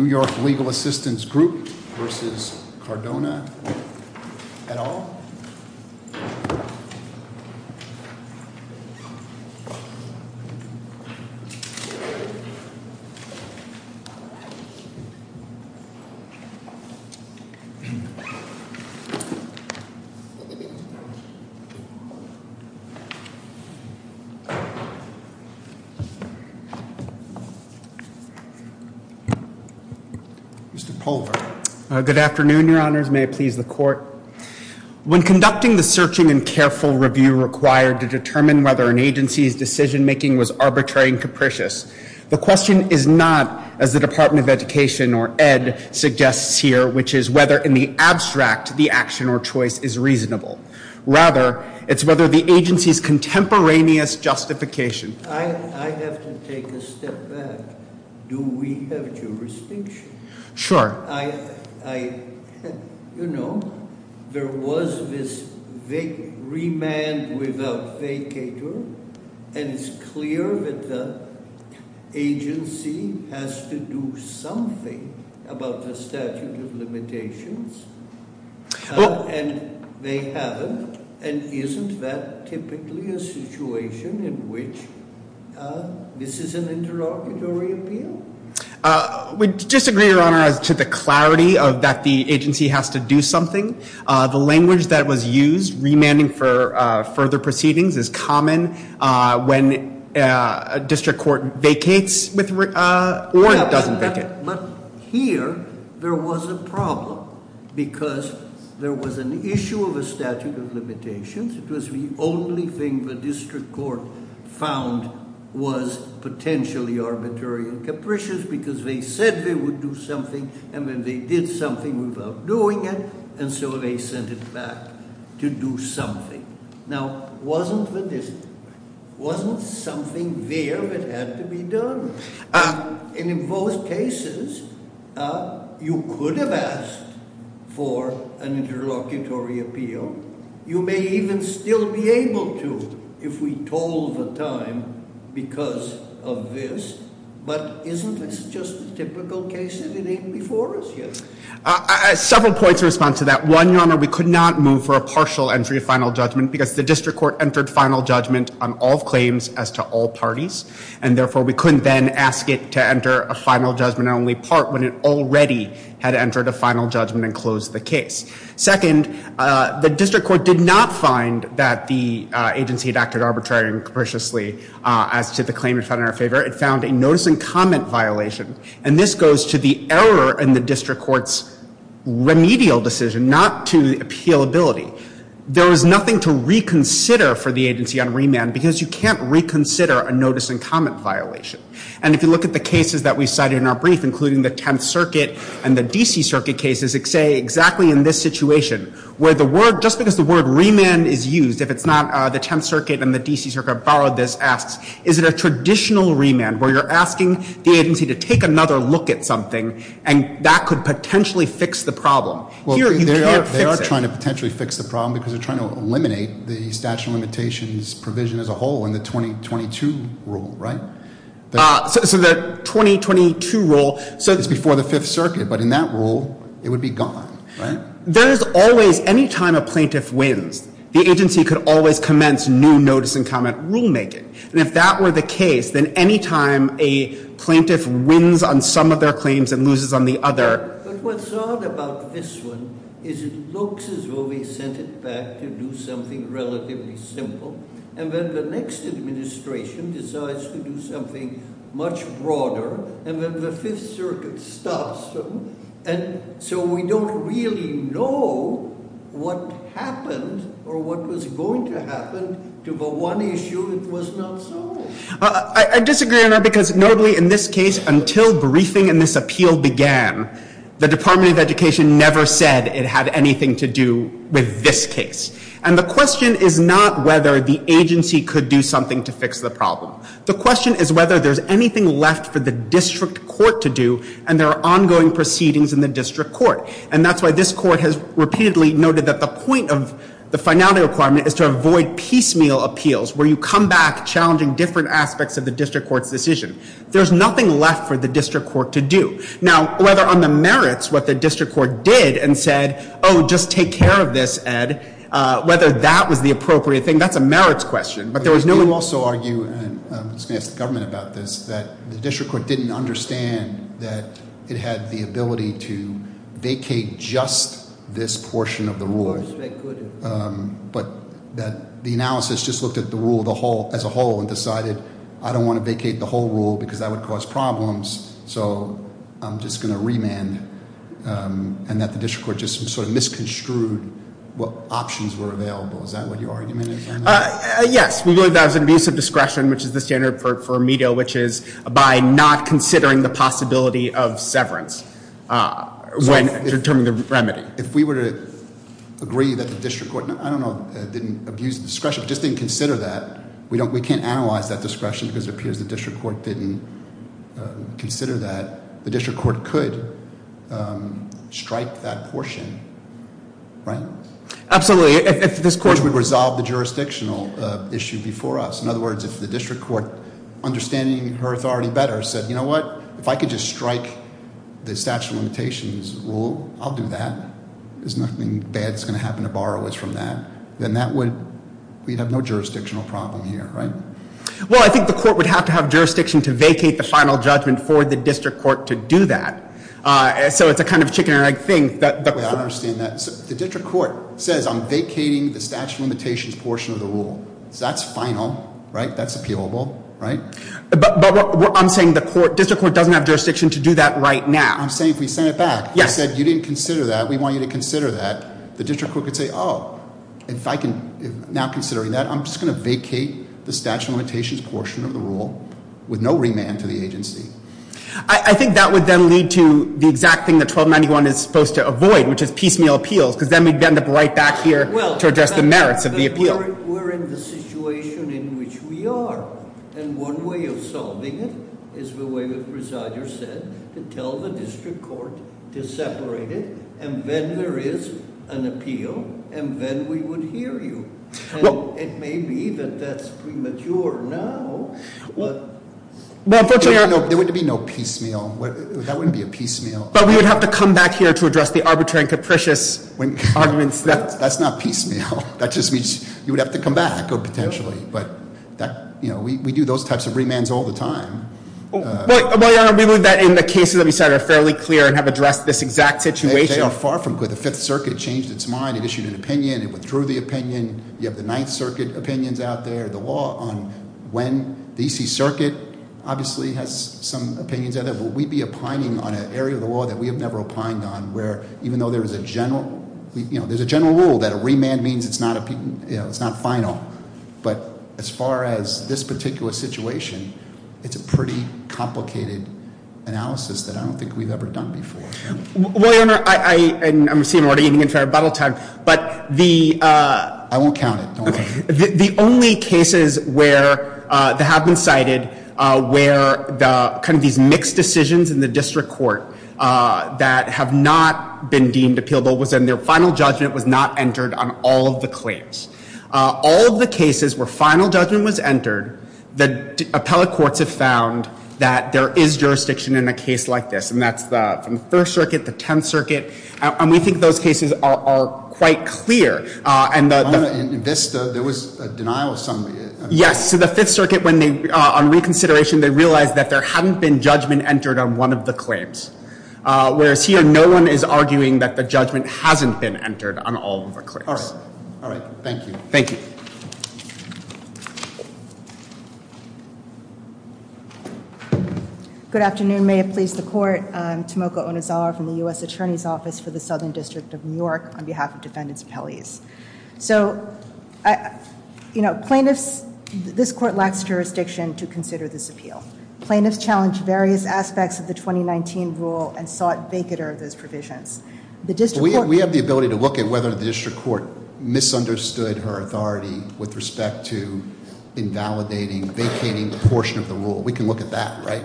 New York Legal Assistance Group v. Cardona, et al. Mr. Polver. Good afternoon, Your Honors. May it please the Court. When conducting the searching and careful review required to determine whether an agency's decision-making was arbitrary and capricious, the question is not, as the Department of Education, or ED, suggests here, which is whether in the abstract the action or choice is reasonable. Rather, it's whether the agency's contemporaneous justification— I have to take a step back. Do we have jurisdiction? Sure. You know, there was this remand without vacator, and it's clear that the agency has to do something about the statute of limitations, and they haven't, and isn't that typically a situation in which this is an interrogatory appeal? We disagree, Your Honor, as to the clarity of that the agency has to do something. The language that was used, remanding for further proceedings, is common when a district court vacates or doesn't vacate. But here, there was a problem because there was an issue of a statute of limitations. It was the only thing the district court found was potentially arbitrary and capricious because they said they would do something, and then they did something without doing it, and so they sent it back to do something. Now, wasn't the district—wasn't something there that had to be done? And in both cases, you could have asked for an interlocutory appeal. You may even still be able to if we told the time because of this, but isn't this just a typical case if it ain't before us yet? Several points in response to that. One, Your Honor, we could not move for a partial entry of final judgment because the district court entered final judgment on all claims as to all parties, and therefore, we couldn't then ask it to enter a final judgment only part when it already had entered a final judgment and closed the case. Second, the district court did not find that the agency had acted arbitrarily and capriciously as to the claim it found in our favor. It found a notice and comment violation, and this goes to the error in the district court's remedial decision not to appealability. There is nothing to reconsider for the agency on remand because you can't reconsider a notice and comment violation. And if you look at the cases that we cited in our brief, including the Tenth Circuit and the D.C. Circuit cases, say exactly in this situation where the word—just because the word remand is used, if it's not the Tenth Circuit and the D.C. Circuit borrowed this, asks is it a traditional remand where you're asking the agency to take another look at something and that could potentially fix the problem? Well, they are trying to potentially fix the problem because they're trying to eliminate the statute of limitations provision as a whole in the 2022 rule, right? So the 2022 rule— It's before the Fifth Circuit, but in that rule it would be gone, right? There's always—any time a plaintiff wins, the agency could always commence new notice and comment rulemaking. And if that were the case, then any time a plaintiff wins on some of their claims and loses on the other— But what's odd about this one is it looks as though they sent it back to do something relatively simple, and then the next administration decides to do something much broader, and then the Fifth Circuit stops them, and so we don't really know what happened or what was going to happen to the one issue that was not solved. I disagree on that because notably in this case, until briefing in this appeal began, the Department of Education never said it had anything to do with this case. And the question is not whether the agency could do something to fix the problem. The question is whether there's anything left for the district court to do, and there are ongoing proceedings in the district court. And that's why this court has repeatedly noted that the point of the finality requirement is to avoid piecemeal appeals where you come back challenging different aspects of the district court's decision. There's nothing left for the district court to do. Now, whether on the merits what the district court did and said, oh, just take care of this, Ed, whether that was the appropriate thing, that's a merits question. But there was no— You also argue, and I'm just going to ask the government about this, that the district court didn't understand that it had the ability to vacate just this portion of the rule. But that the analysis just looked at the rule as a whole and decided, I don't want to vacate the whole rule because that would cause problems, so I'm just going to remand. And that the district court just sort of misconstrued what options were available. Is that what your argument is? Yes, we believe that was an abuse of discretion, which is the standard for METO, which is by not considering the possibility of severance when determining the remedy. If we were to agree that the district court, I don't know, didn't abuse discretion, just didn't consider that, we can't analyze that discretion because it appears the district court didn't consider that, the district court could strike that portion, right? Absolutely. If this court would resolve the jurisdictional issue before us. In other words, if the district court, understanding her authority better, said, you know what, if I could just strike the statute of limitations rule, I'll do that. There's nothing bad that's going to happen to borrowers from that. Then that would, we'd have no jurisdictional problem here, right? Well, I think the court would have to have jurisdiction to vacate the final judgment for the district court to do that. So it's a kind of chicken and egg thing. I understand that. The district court says I'm vacating the statute of limitations portion of the rule. So that's final, right? That's appealable, right? But I'm saying the district court doesn't have jurisdiction to do that right now. I'm saying if we send it back and said you didn't consider that, we want you to consider that, the district court could say, oh, now considering that, I'm just going to vacate the statute of limitations portion of the rule with no remand to the agency. I think that would then lead to the exact thing that 1291 is supposed to avoid, which is piecemeal appeals, because then we'd end up right back here to address the merits of the appeal. We're in the situation in which we are. And one way of solving it is the way the presider said, to tell the district court to separate it, and then there is an appeal, and then we would hear you. And it may be that that's premature now, but- There would be no piecemeal. That wouldn't be a piecemeal. But we would have to come back here to address the arbitrary and capricious arguments that- That's not piecemeal. That just means you would have to come back, potentially. But we do those types of remands all the time. But, Your Honor, we believe that in the cases that we cited are fairly clear and have addressed this exact situation. They are far from good. The Fifth Circuit changed its mind. It issued an opinion. It withdrew the opinion. You have the Ninth Circuit opinions out there, the law on when. The E.C. Circuit obviously has some opinions out there. Will we be opining on an area of the law that we have never opined on, where even though there is a general rule that a remand means it's not final, but as far as this particular situation, it's a pretty complicated analysis that I don't think we've ever done before. Well, Your Honor, I'm assuming we're eating into our battle time, but the- I won't count it. The only cases where they have been cited where kind of these mixed decisions in the district court that have not been deemed appealable was in their final judgment was not entered on all of the claims. All of the cases where final judgment was entered, the appellate courts have found that there is jurisdiction in a case like this, and that's from the First Circuit, the Tenth Circuit, and we think those cases are quite clear. Your Honor, in this, there was a denial of some- Yes, so the Fifth Circuit, on reconsideration, they realized that there hadn't been judgment entered on one of the claims, whereas here, no one is arguing that the judgment hasn't been entered on all of the claims. All right. Thank you. Thank you. Good afternoon. May it please the court. I'm Tomoko Onizawa from the U.S. Attorney's Office for the Southern District of New York on behalf of defendants' appellees. So, you know, plaintiffs, this court lacks jurisdiction to consider this appeal. Plaintiffs challenged various aspects of the 2019 rule and sought vacater of those provisions. We have the ability to look at whether the district court misunderstood her authority with respect to invalidating, vacating a portion of the rule. We can look at that, right?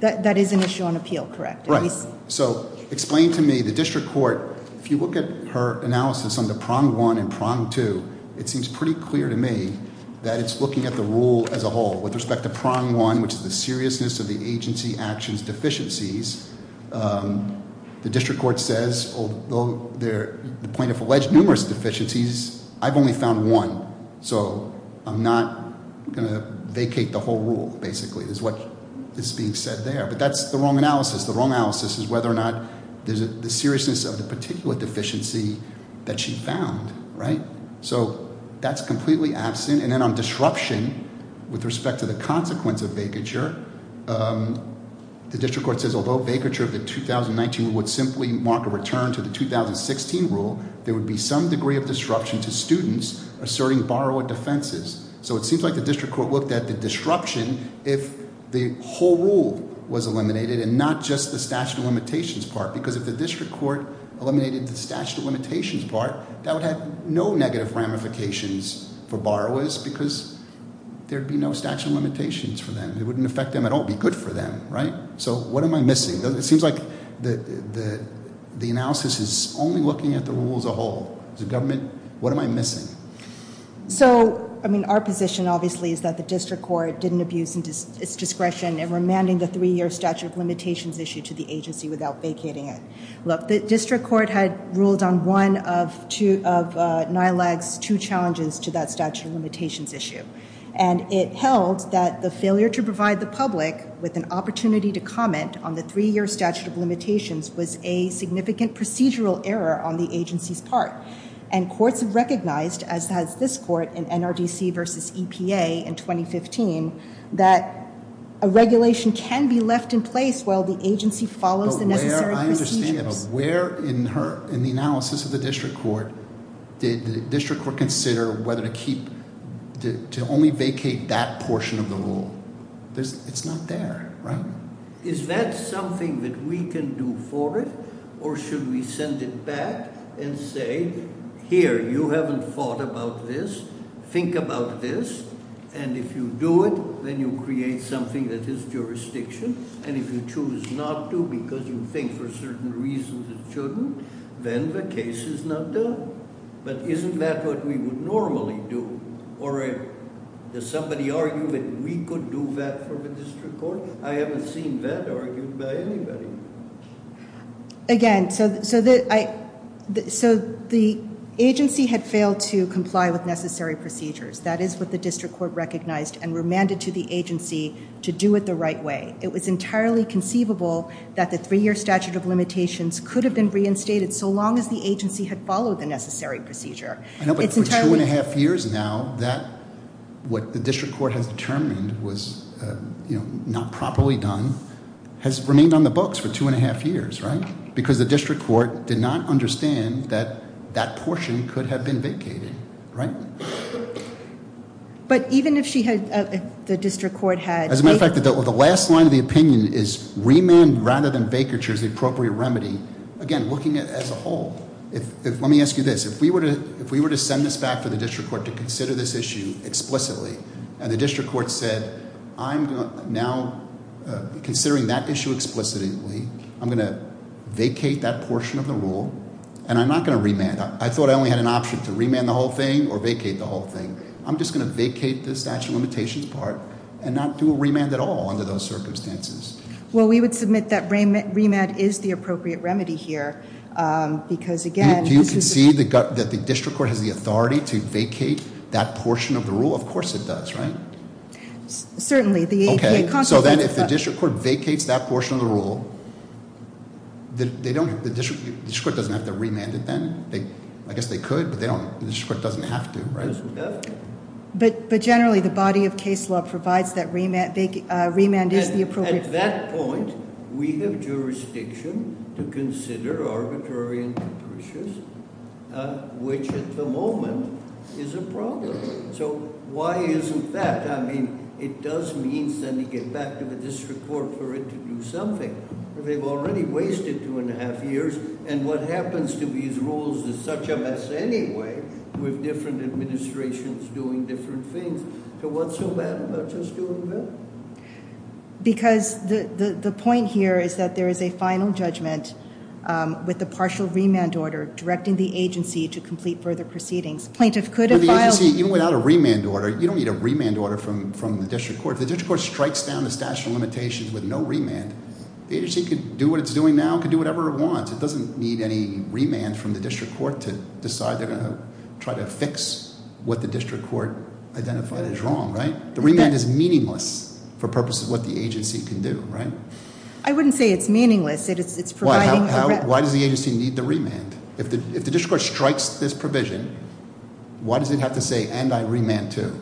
That is an issue on appeal, correct? Right. So explain to me, the district court, if you look at her analysis on the prong one and prong two, it seems pretty clear to me that it's looking at the rule as a whole. With respect to prong one, which is the seriousness of the agency actions deficiencies, the district court says, although the plaintiff alleged numerous deficiencies, I've only found one. So I'm not going to vacate the whole rule, basically, is what is being said there. But that's the wrong analysis. The wrong analysis is whether or not there's the seriousness of the particular deficiency that she found, right? So that's completely absent. And then on disruption, with respect to the consequence of vacature, the district court says, although vacature of the 2019 would simply mark a return to the 2016 rule, there would be some degree of disruption to students asserting borrower defenses. So it seems like the district court looked at the disruption if the whole rule was eliminated and not just the statute of limitations part. Because if the district court eliminated the statute of limitations part, that would have no negative ramifications for borrowers because there would be no statute of limitations for them. It wouldn't affect them at all. It would be good for them, right? So what am I missing? It seems like the analysis is only looking at the rule as a whole. As a government, what am I missing? So, I mean, our position, obviously, is that the district court didn't abuse its discretion in remanding the three-year statute of limitations issue to the agency without vacating it. Look, the district court had ruled on one of NILAG's two challenges to that statute of limitations issue. And it held that the failure to provide the public with an opportunity to comment on the three-year statute of limitations was a significant procedural error on the agency's part. And courts have recognized, as has this court in NRDC versus EPA in 2015, that a regulation can be left in place while the agency follows the necessary procedures. But where, I understand that, but where in the analysis of the district court did the district court consider whether to keep, to only vacate that portion of the rule? It's not there, right? Is that something that we can do for it? Or should we send it back and say, here, you haven't thought about this. Think about this. And if you do it, then you create something that is jurisdiction. And if you choose not to because you think for certain reasons it shouldn't, then the case is not done. But isn't that what we would normally do? Or does somebody argue that we could do that for the district court? I haven't seen that argued by anybody. Again, so the agency had failed to comply with necessary procedures. That is what the district court recognized and remanded to the agency to do it the right way. It was entirely conceivable that the three-year statute of limitations could have been reinstated so long as the agency had followed the necessary procedure. I know, but for two-and-a-half years now, what the district court has determined was not properly done has remained on the books for two-and-a-half years, right? Because the district court did not understand that that portion could have been vacated, right? But even if the district court had – As a matter of fact, the last line of the opinion is remand rather than vacature is the appropriate remedy. Again, looking at it as a whole. Let me ask you this. If we were to send this back to the district court to consider this issue explicitly and the district court said, I'm now considering that issue explicitly. I'm going to vacate that portion of the rule, and I'm not going to remand. I thought I only had an option to remand the whole thing or vacate the whole thing. I'm just going to vacate the statute of limitations part and not do a remand at all under those circumstances. Well, we would submit that remand is the appropriate remedy here because, again— Do you concede that the district court has the authority to vacate that portion of the rule? Of course it does, right? Certainly. Okay. So then if the district court vacates that portion of the rule, the district court doesn't have to remand it then? I guess they could, but the district court doesn't have to, right? But generally, the body of case law provides that remand is the appropriate— At that point, we have jurisdiction to consider arbitrary and capricious, which at the moment is a problem. So why isn't that? I mean, it does mean sending it back to the district court for it to do something. They've already wasted two and a half years, and what happens to these rules is such a mess anyway with different administrations doing different things. So what's so bad about just doing that? Because the point here is that there is a final judgment with the partial remand order directing the agency to complete further proceedings. Plaintiff could have filed— But the agency, even without a remand order, you don't need a remand order from the district court. If the district court strikes down the statute of limitations with no remand, the agency could do what it's doing now and could do whatever it wants. It doesn't need any remand from the district court to decide they're going to try to fix what the district court identified as wrong, right? The remand is meaningless for purposes of what the agency can do, right? I wouldn't say it's meaningless. It's providing— Why does the agency need the remand? If the district court strikes this provision, why does it have to say, and I remand too?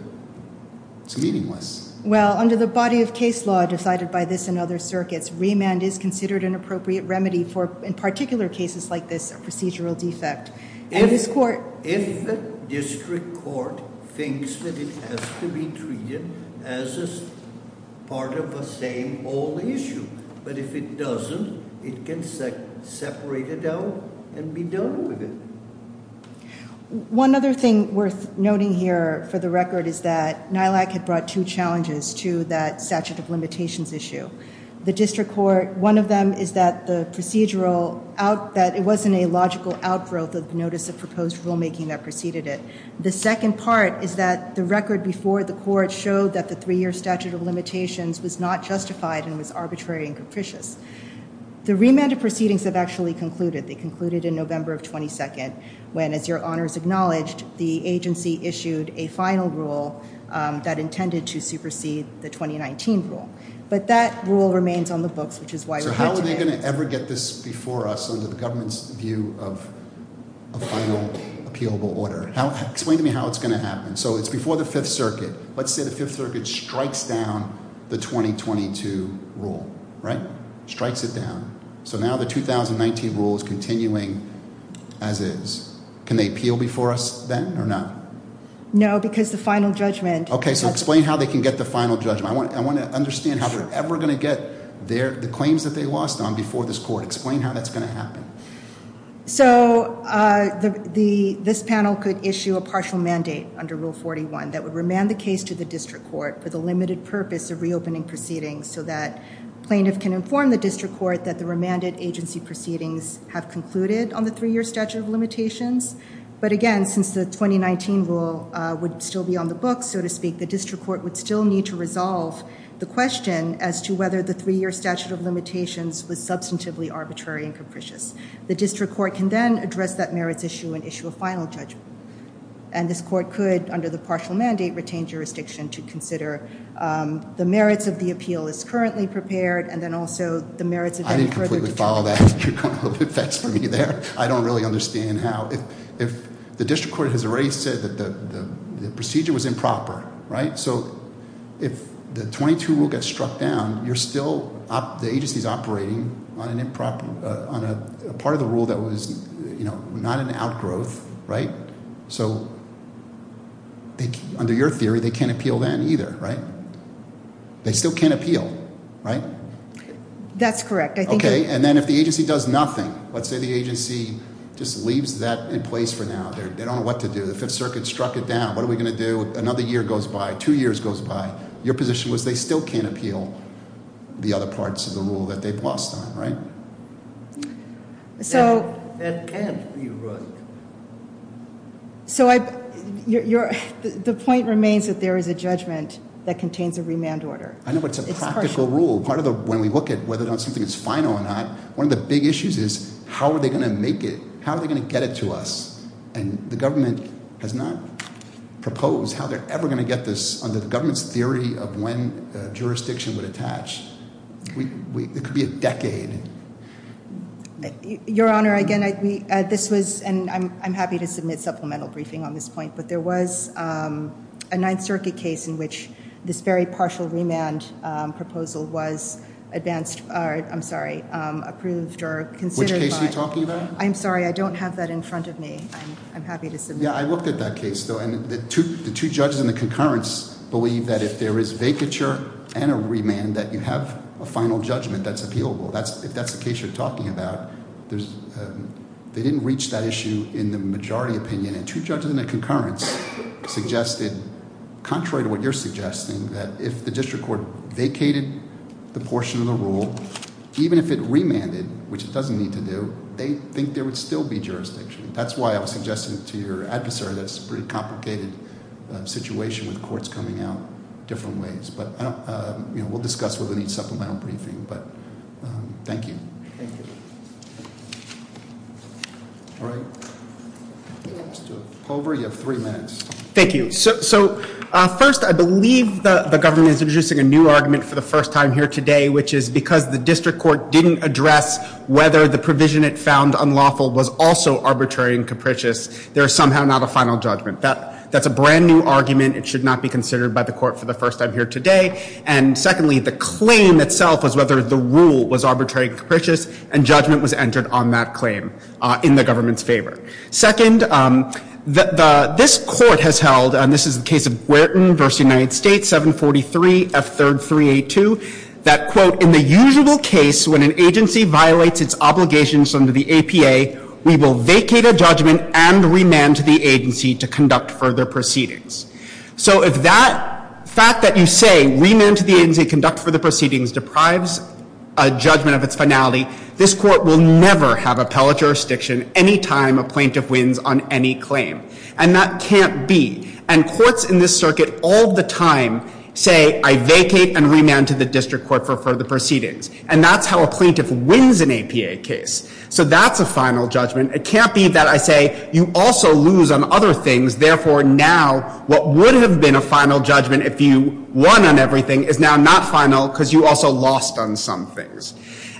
It's meaningless. Well, under the body of case law decided by this and other circuits, remand is considered an appropriate remedy for, in particular cases like this, a procedural defect. If the district court thinks that it has to be treated as part of the same old issue, but if it doesn't, it can separate it out and be done with it. One other thing worth noting here for the record is that NILAC had brought two challenges to that statute of limitations issue. The district court, one of them is that the procedural—that it wasn't a logical outgrowth of the notice of proposed rulemaking that preceded it. The second part is that the record before the court showed that the three-year statute of limitations was not justified and was arbitrary and capricious. The remanded proceedings have actually concluded. They concluded in November of 22nd when, as your honors acknowledged, the agency issued a final rule that intended to supersede the 2019 rule. But that rule remains on the books, which is why we're here today. So how are they going to ever get this before us under the government's view of a final appealable order? So it's before the Fifth Circuit. Let's say the Fifth Circuit strikes down the 2022 rule, right? Strikes it down. So now the 2019 rule is continuing as is. Can they appeal before us then or not? No, because the final judgment— Okay, so explain how they can get the final judgment. I want to understand how they're ever going to get the claims that they lost on before this court. Explain how that's going to happen. So this panel could issue a partial mandate under Rule 41 that would remand the case to the district court for the limited purpose of reopening proceedings so that plaintiff can inform the district court that the remanded agency proceedings have concluded on the three-year statute of limitations. But again, since the 2019 rule would still be on the books, so to speak, the district court would still need to resolve the question as to whether the three-year statute of limitations was substantively arbitrary and capricious. The district court can then address that merits issue and issue a final judgment. And this court could, under the partial mandate, retain jurisdiction to consider the merits of the appeal as currently prepared and then also the merits of— I didn't completely follow that. You're going a little bit fast for me there. I don't really understand how. If the district court has already said that the procedure was improper, right? So if the 22 rule gets struck down, you're still—the agency is operating on a part of the rule that was not an outgrowth, right? So under your theory, they can't appeal that either, right? They still can't appeal, right? That's correct. I think— The agency just leaves that in place for now. They don't know what to do. The Fifth Circuit struck it down. What are we going to do? Another year goes by. Two years goes by. Your position was they still can't appeal the other parts of the rule that they've lost on, right? That can't be right. So the point remains that there is a judgment that contains a remand order. I know, but it's a practical rule. When we look at whether or not something is final or not, one of the big issues is how are they going to make it? How are they going to get it to us? And the government has not proposed how they're ever going to get this under the government's theory of when jurisdiction would attach. It could be a decade. Your Honor, again, this was—and I'm happy to submit supplemental briefing on this point. But there was a Ninth Circuit case in which this very partial remand proposal was advanced—I'm sorry, approved or considered by— Which case are you talking about? I'm sorry. I don't have that in front of me. I'm happy to submit— Yeah, I looked at that case, though, and the two judges in the concurrence believe that if there is vacature and a remand that you have a final judgment that's appealable. If that's the case you're talking about, they didn't reach that issue in the majority opinion. And two judges in the concurrence suggested, contrary to what you're suggesting, that if the district court vacated the portion of the rule, even if it remanded, which it doesn't need to do, they think there would still be jurisdiction. That's why I was suggesting to your adversary that it's a pretty complicated situation with courts coming out different ways. We'll discuss whether we need supplemental briefing, but thank you. Thank you. All right. Let's do it. Culver, you have three minutes. Thank you. So, first, I believe the government is introducing a new argument for the first time here today, which is because the district court didn't address whether the provision it found unlawful was also arbitrary and capricious. There is somehow not a final judgment. That's a brand-new argument. It should not be considered by the court for the first time here today. And, secondly, the claim itself was whether the rule was arbitrary and capricious, and judgment was entered on that claim in the government's favor. Second, this court has held, and this is the case of Guertin v. United States, 743F3382, that, quote, in the usual case when an agency violates its obligations under the APA, we will vacate a judgment and remand to the agency to conduct further proceedings. So if that fact that you say, remand to the agency to conduct further proceedings, deprives a judgment of its finality, this court will never have appellate jurisdiction any time a plaintiff wins on any claim. And that can't be. And courts in this circuit all the time say, I vacate and remand to the district court for further proceedings. And that's how a plaintiff wins an APA case. So that's a final judgment. It can't be that I say, you also lose on other things. Therefore, now what would have been a final judgment if you won on everything is now not final because you also lost on some things.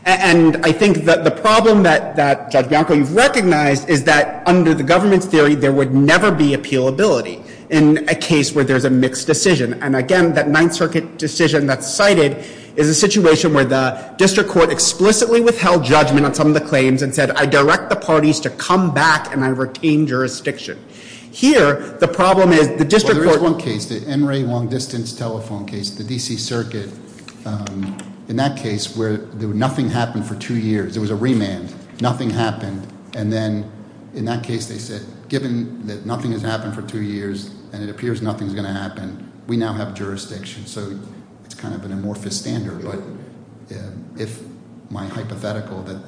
And I think that the problem that, Judge Bianco, you've recognized is that under the government's theory, there would never be appealability in a case where there's a mixed decision. And again, that Ninth Circuit decision that's cited is a situation where the district court explicitly withheld judgment on some of the claims and said, I direct the parties to come back and I retain jurisdiction. Here, the problem is the district court- There is one case, the Emory Long Distance Telephone case, the DC Circuit. In that case, where nothing happened for two years. It was a remand. Nothing happened. And then in that case, they said, given that nothing has happened for two years and it appears nothing's going to happen, we now have jurisdiction. So it's kind of an amorphous standard. But if my hypothetical that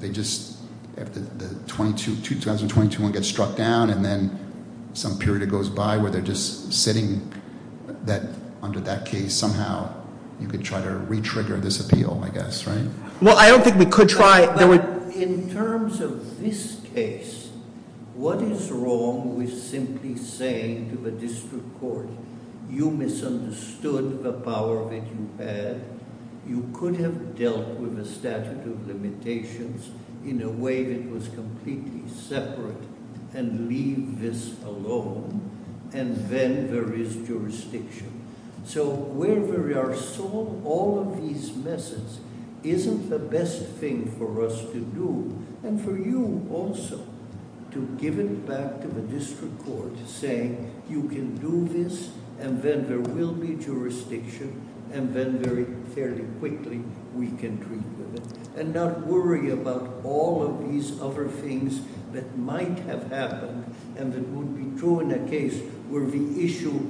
they just, if the 2022 one gets struck down and then some period goes by where they're just sitting under that case, somehow you could try to re-trigger this appeal, I guess, right? Well, I don't think we could try- In terms of this case, what is wrong with simply saying to the district court, you misunderstood the power that you had. You could have dealt with the statute of limitations in a way that was completely separate and leave this alone, and then there is jurisdiction. So where there are some, all of these methods isn't the best thing for us to do. And for you also to give it back to the district court to say, you can do this, and then there will be jurisdiction, and then very fairly quickly, we can treat with it. And not worry about all of these other things that might have happened and would be true in a case where the issue,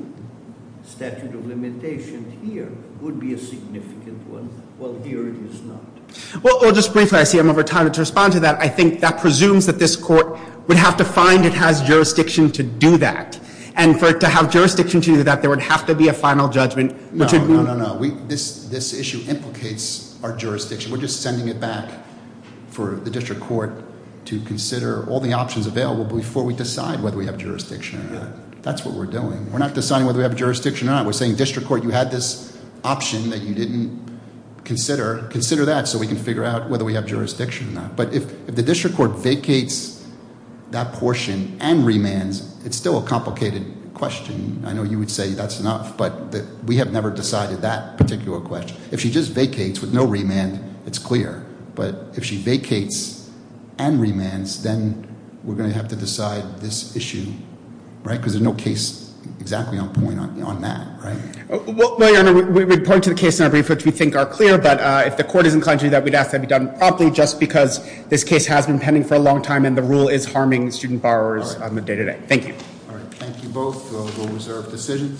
statute of limitation here, would be a significant one, while here it is not. Well, just briefly, I see I'm over time. To respond to that, I think that presumes that this court would have to find it has jurisdiction to do that. And for it to have jurisdiction to do that, there would have to be a final judgment. No, no, no, no. This issue implicates our jurisdiction. We're just sending it back for the district court to consider all the options available before we decide whether we have jurisdiction or not. That's what we're doing. We're not deciding whether we have jurisdiction or not. We're saying, district court, you had this option that you didn't consider. Consider that so we can figure out whether we have jurisdiction or not. But if the district court vacates that portion and remands, it's still a complicated question. I know you would say that's enough, but we have never decided that particular question. If she just vacates with no remand, it's clear. But if she vacates and remands, then we're going to have to decide this issue, right? Because there's no case exactly on point on that, right? Well, no, your honor, we would point to the case in our brief, which we think are clear. But if the court is inclined to do that, we'd ask that it be done promptly just because this case has been pending for a long time. And the rule is harming student borrowers on the day-to-day. Thank you. All right. Thank you both. We'll reserve decision.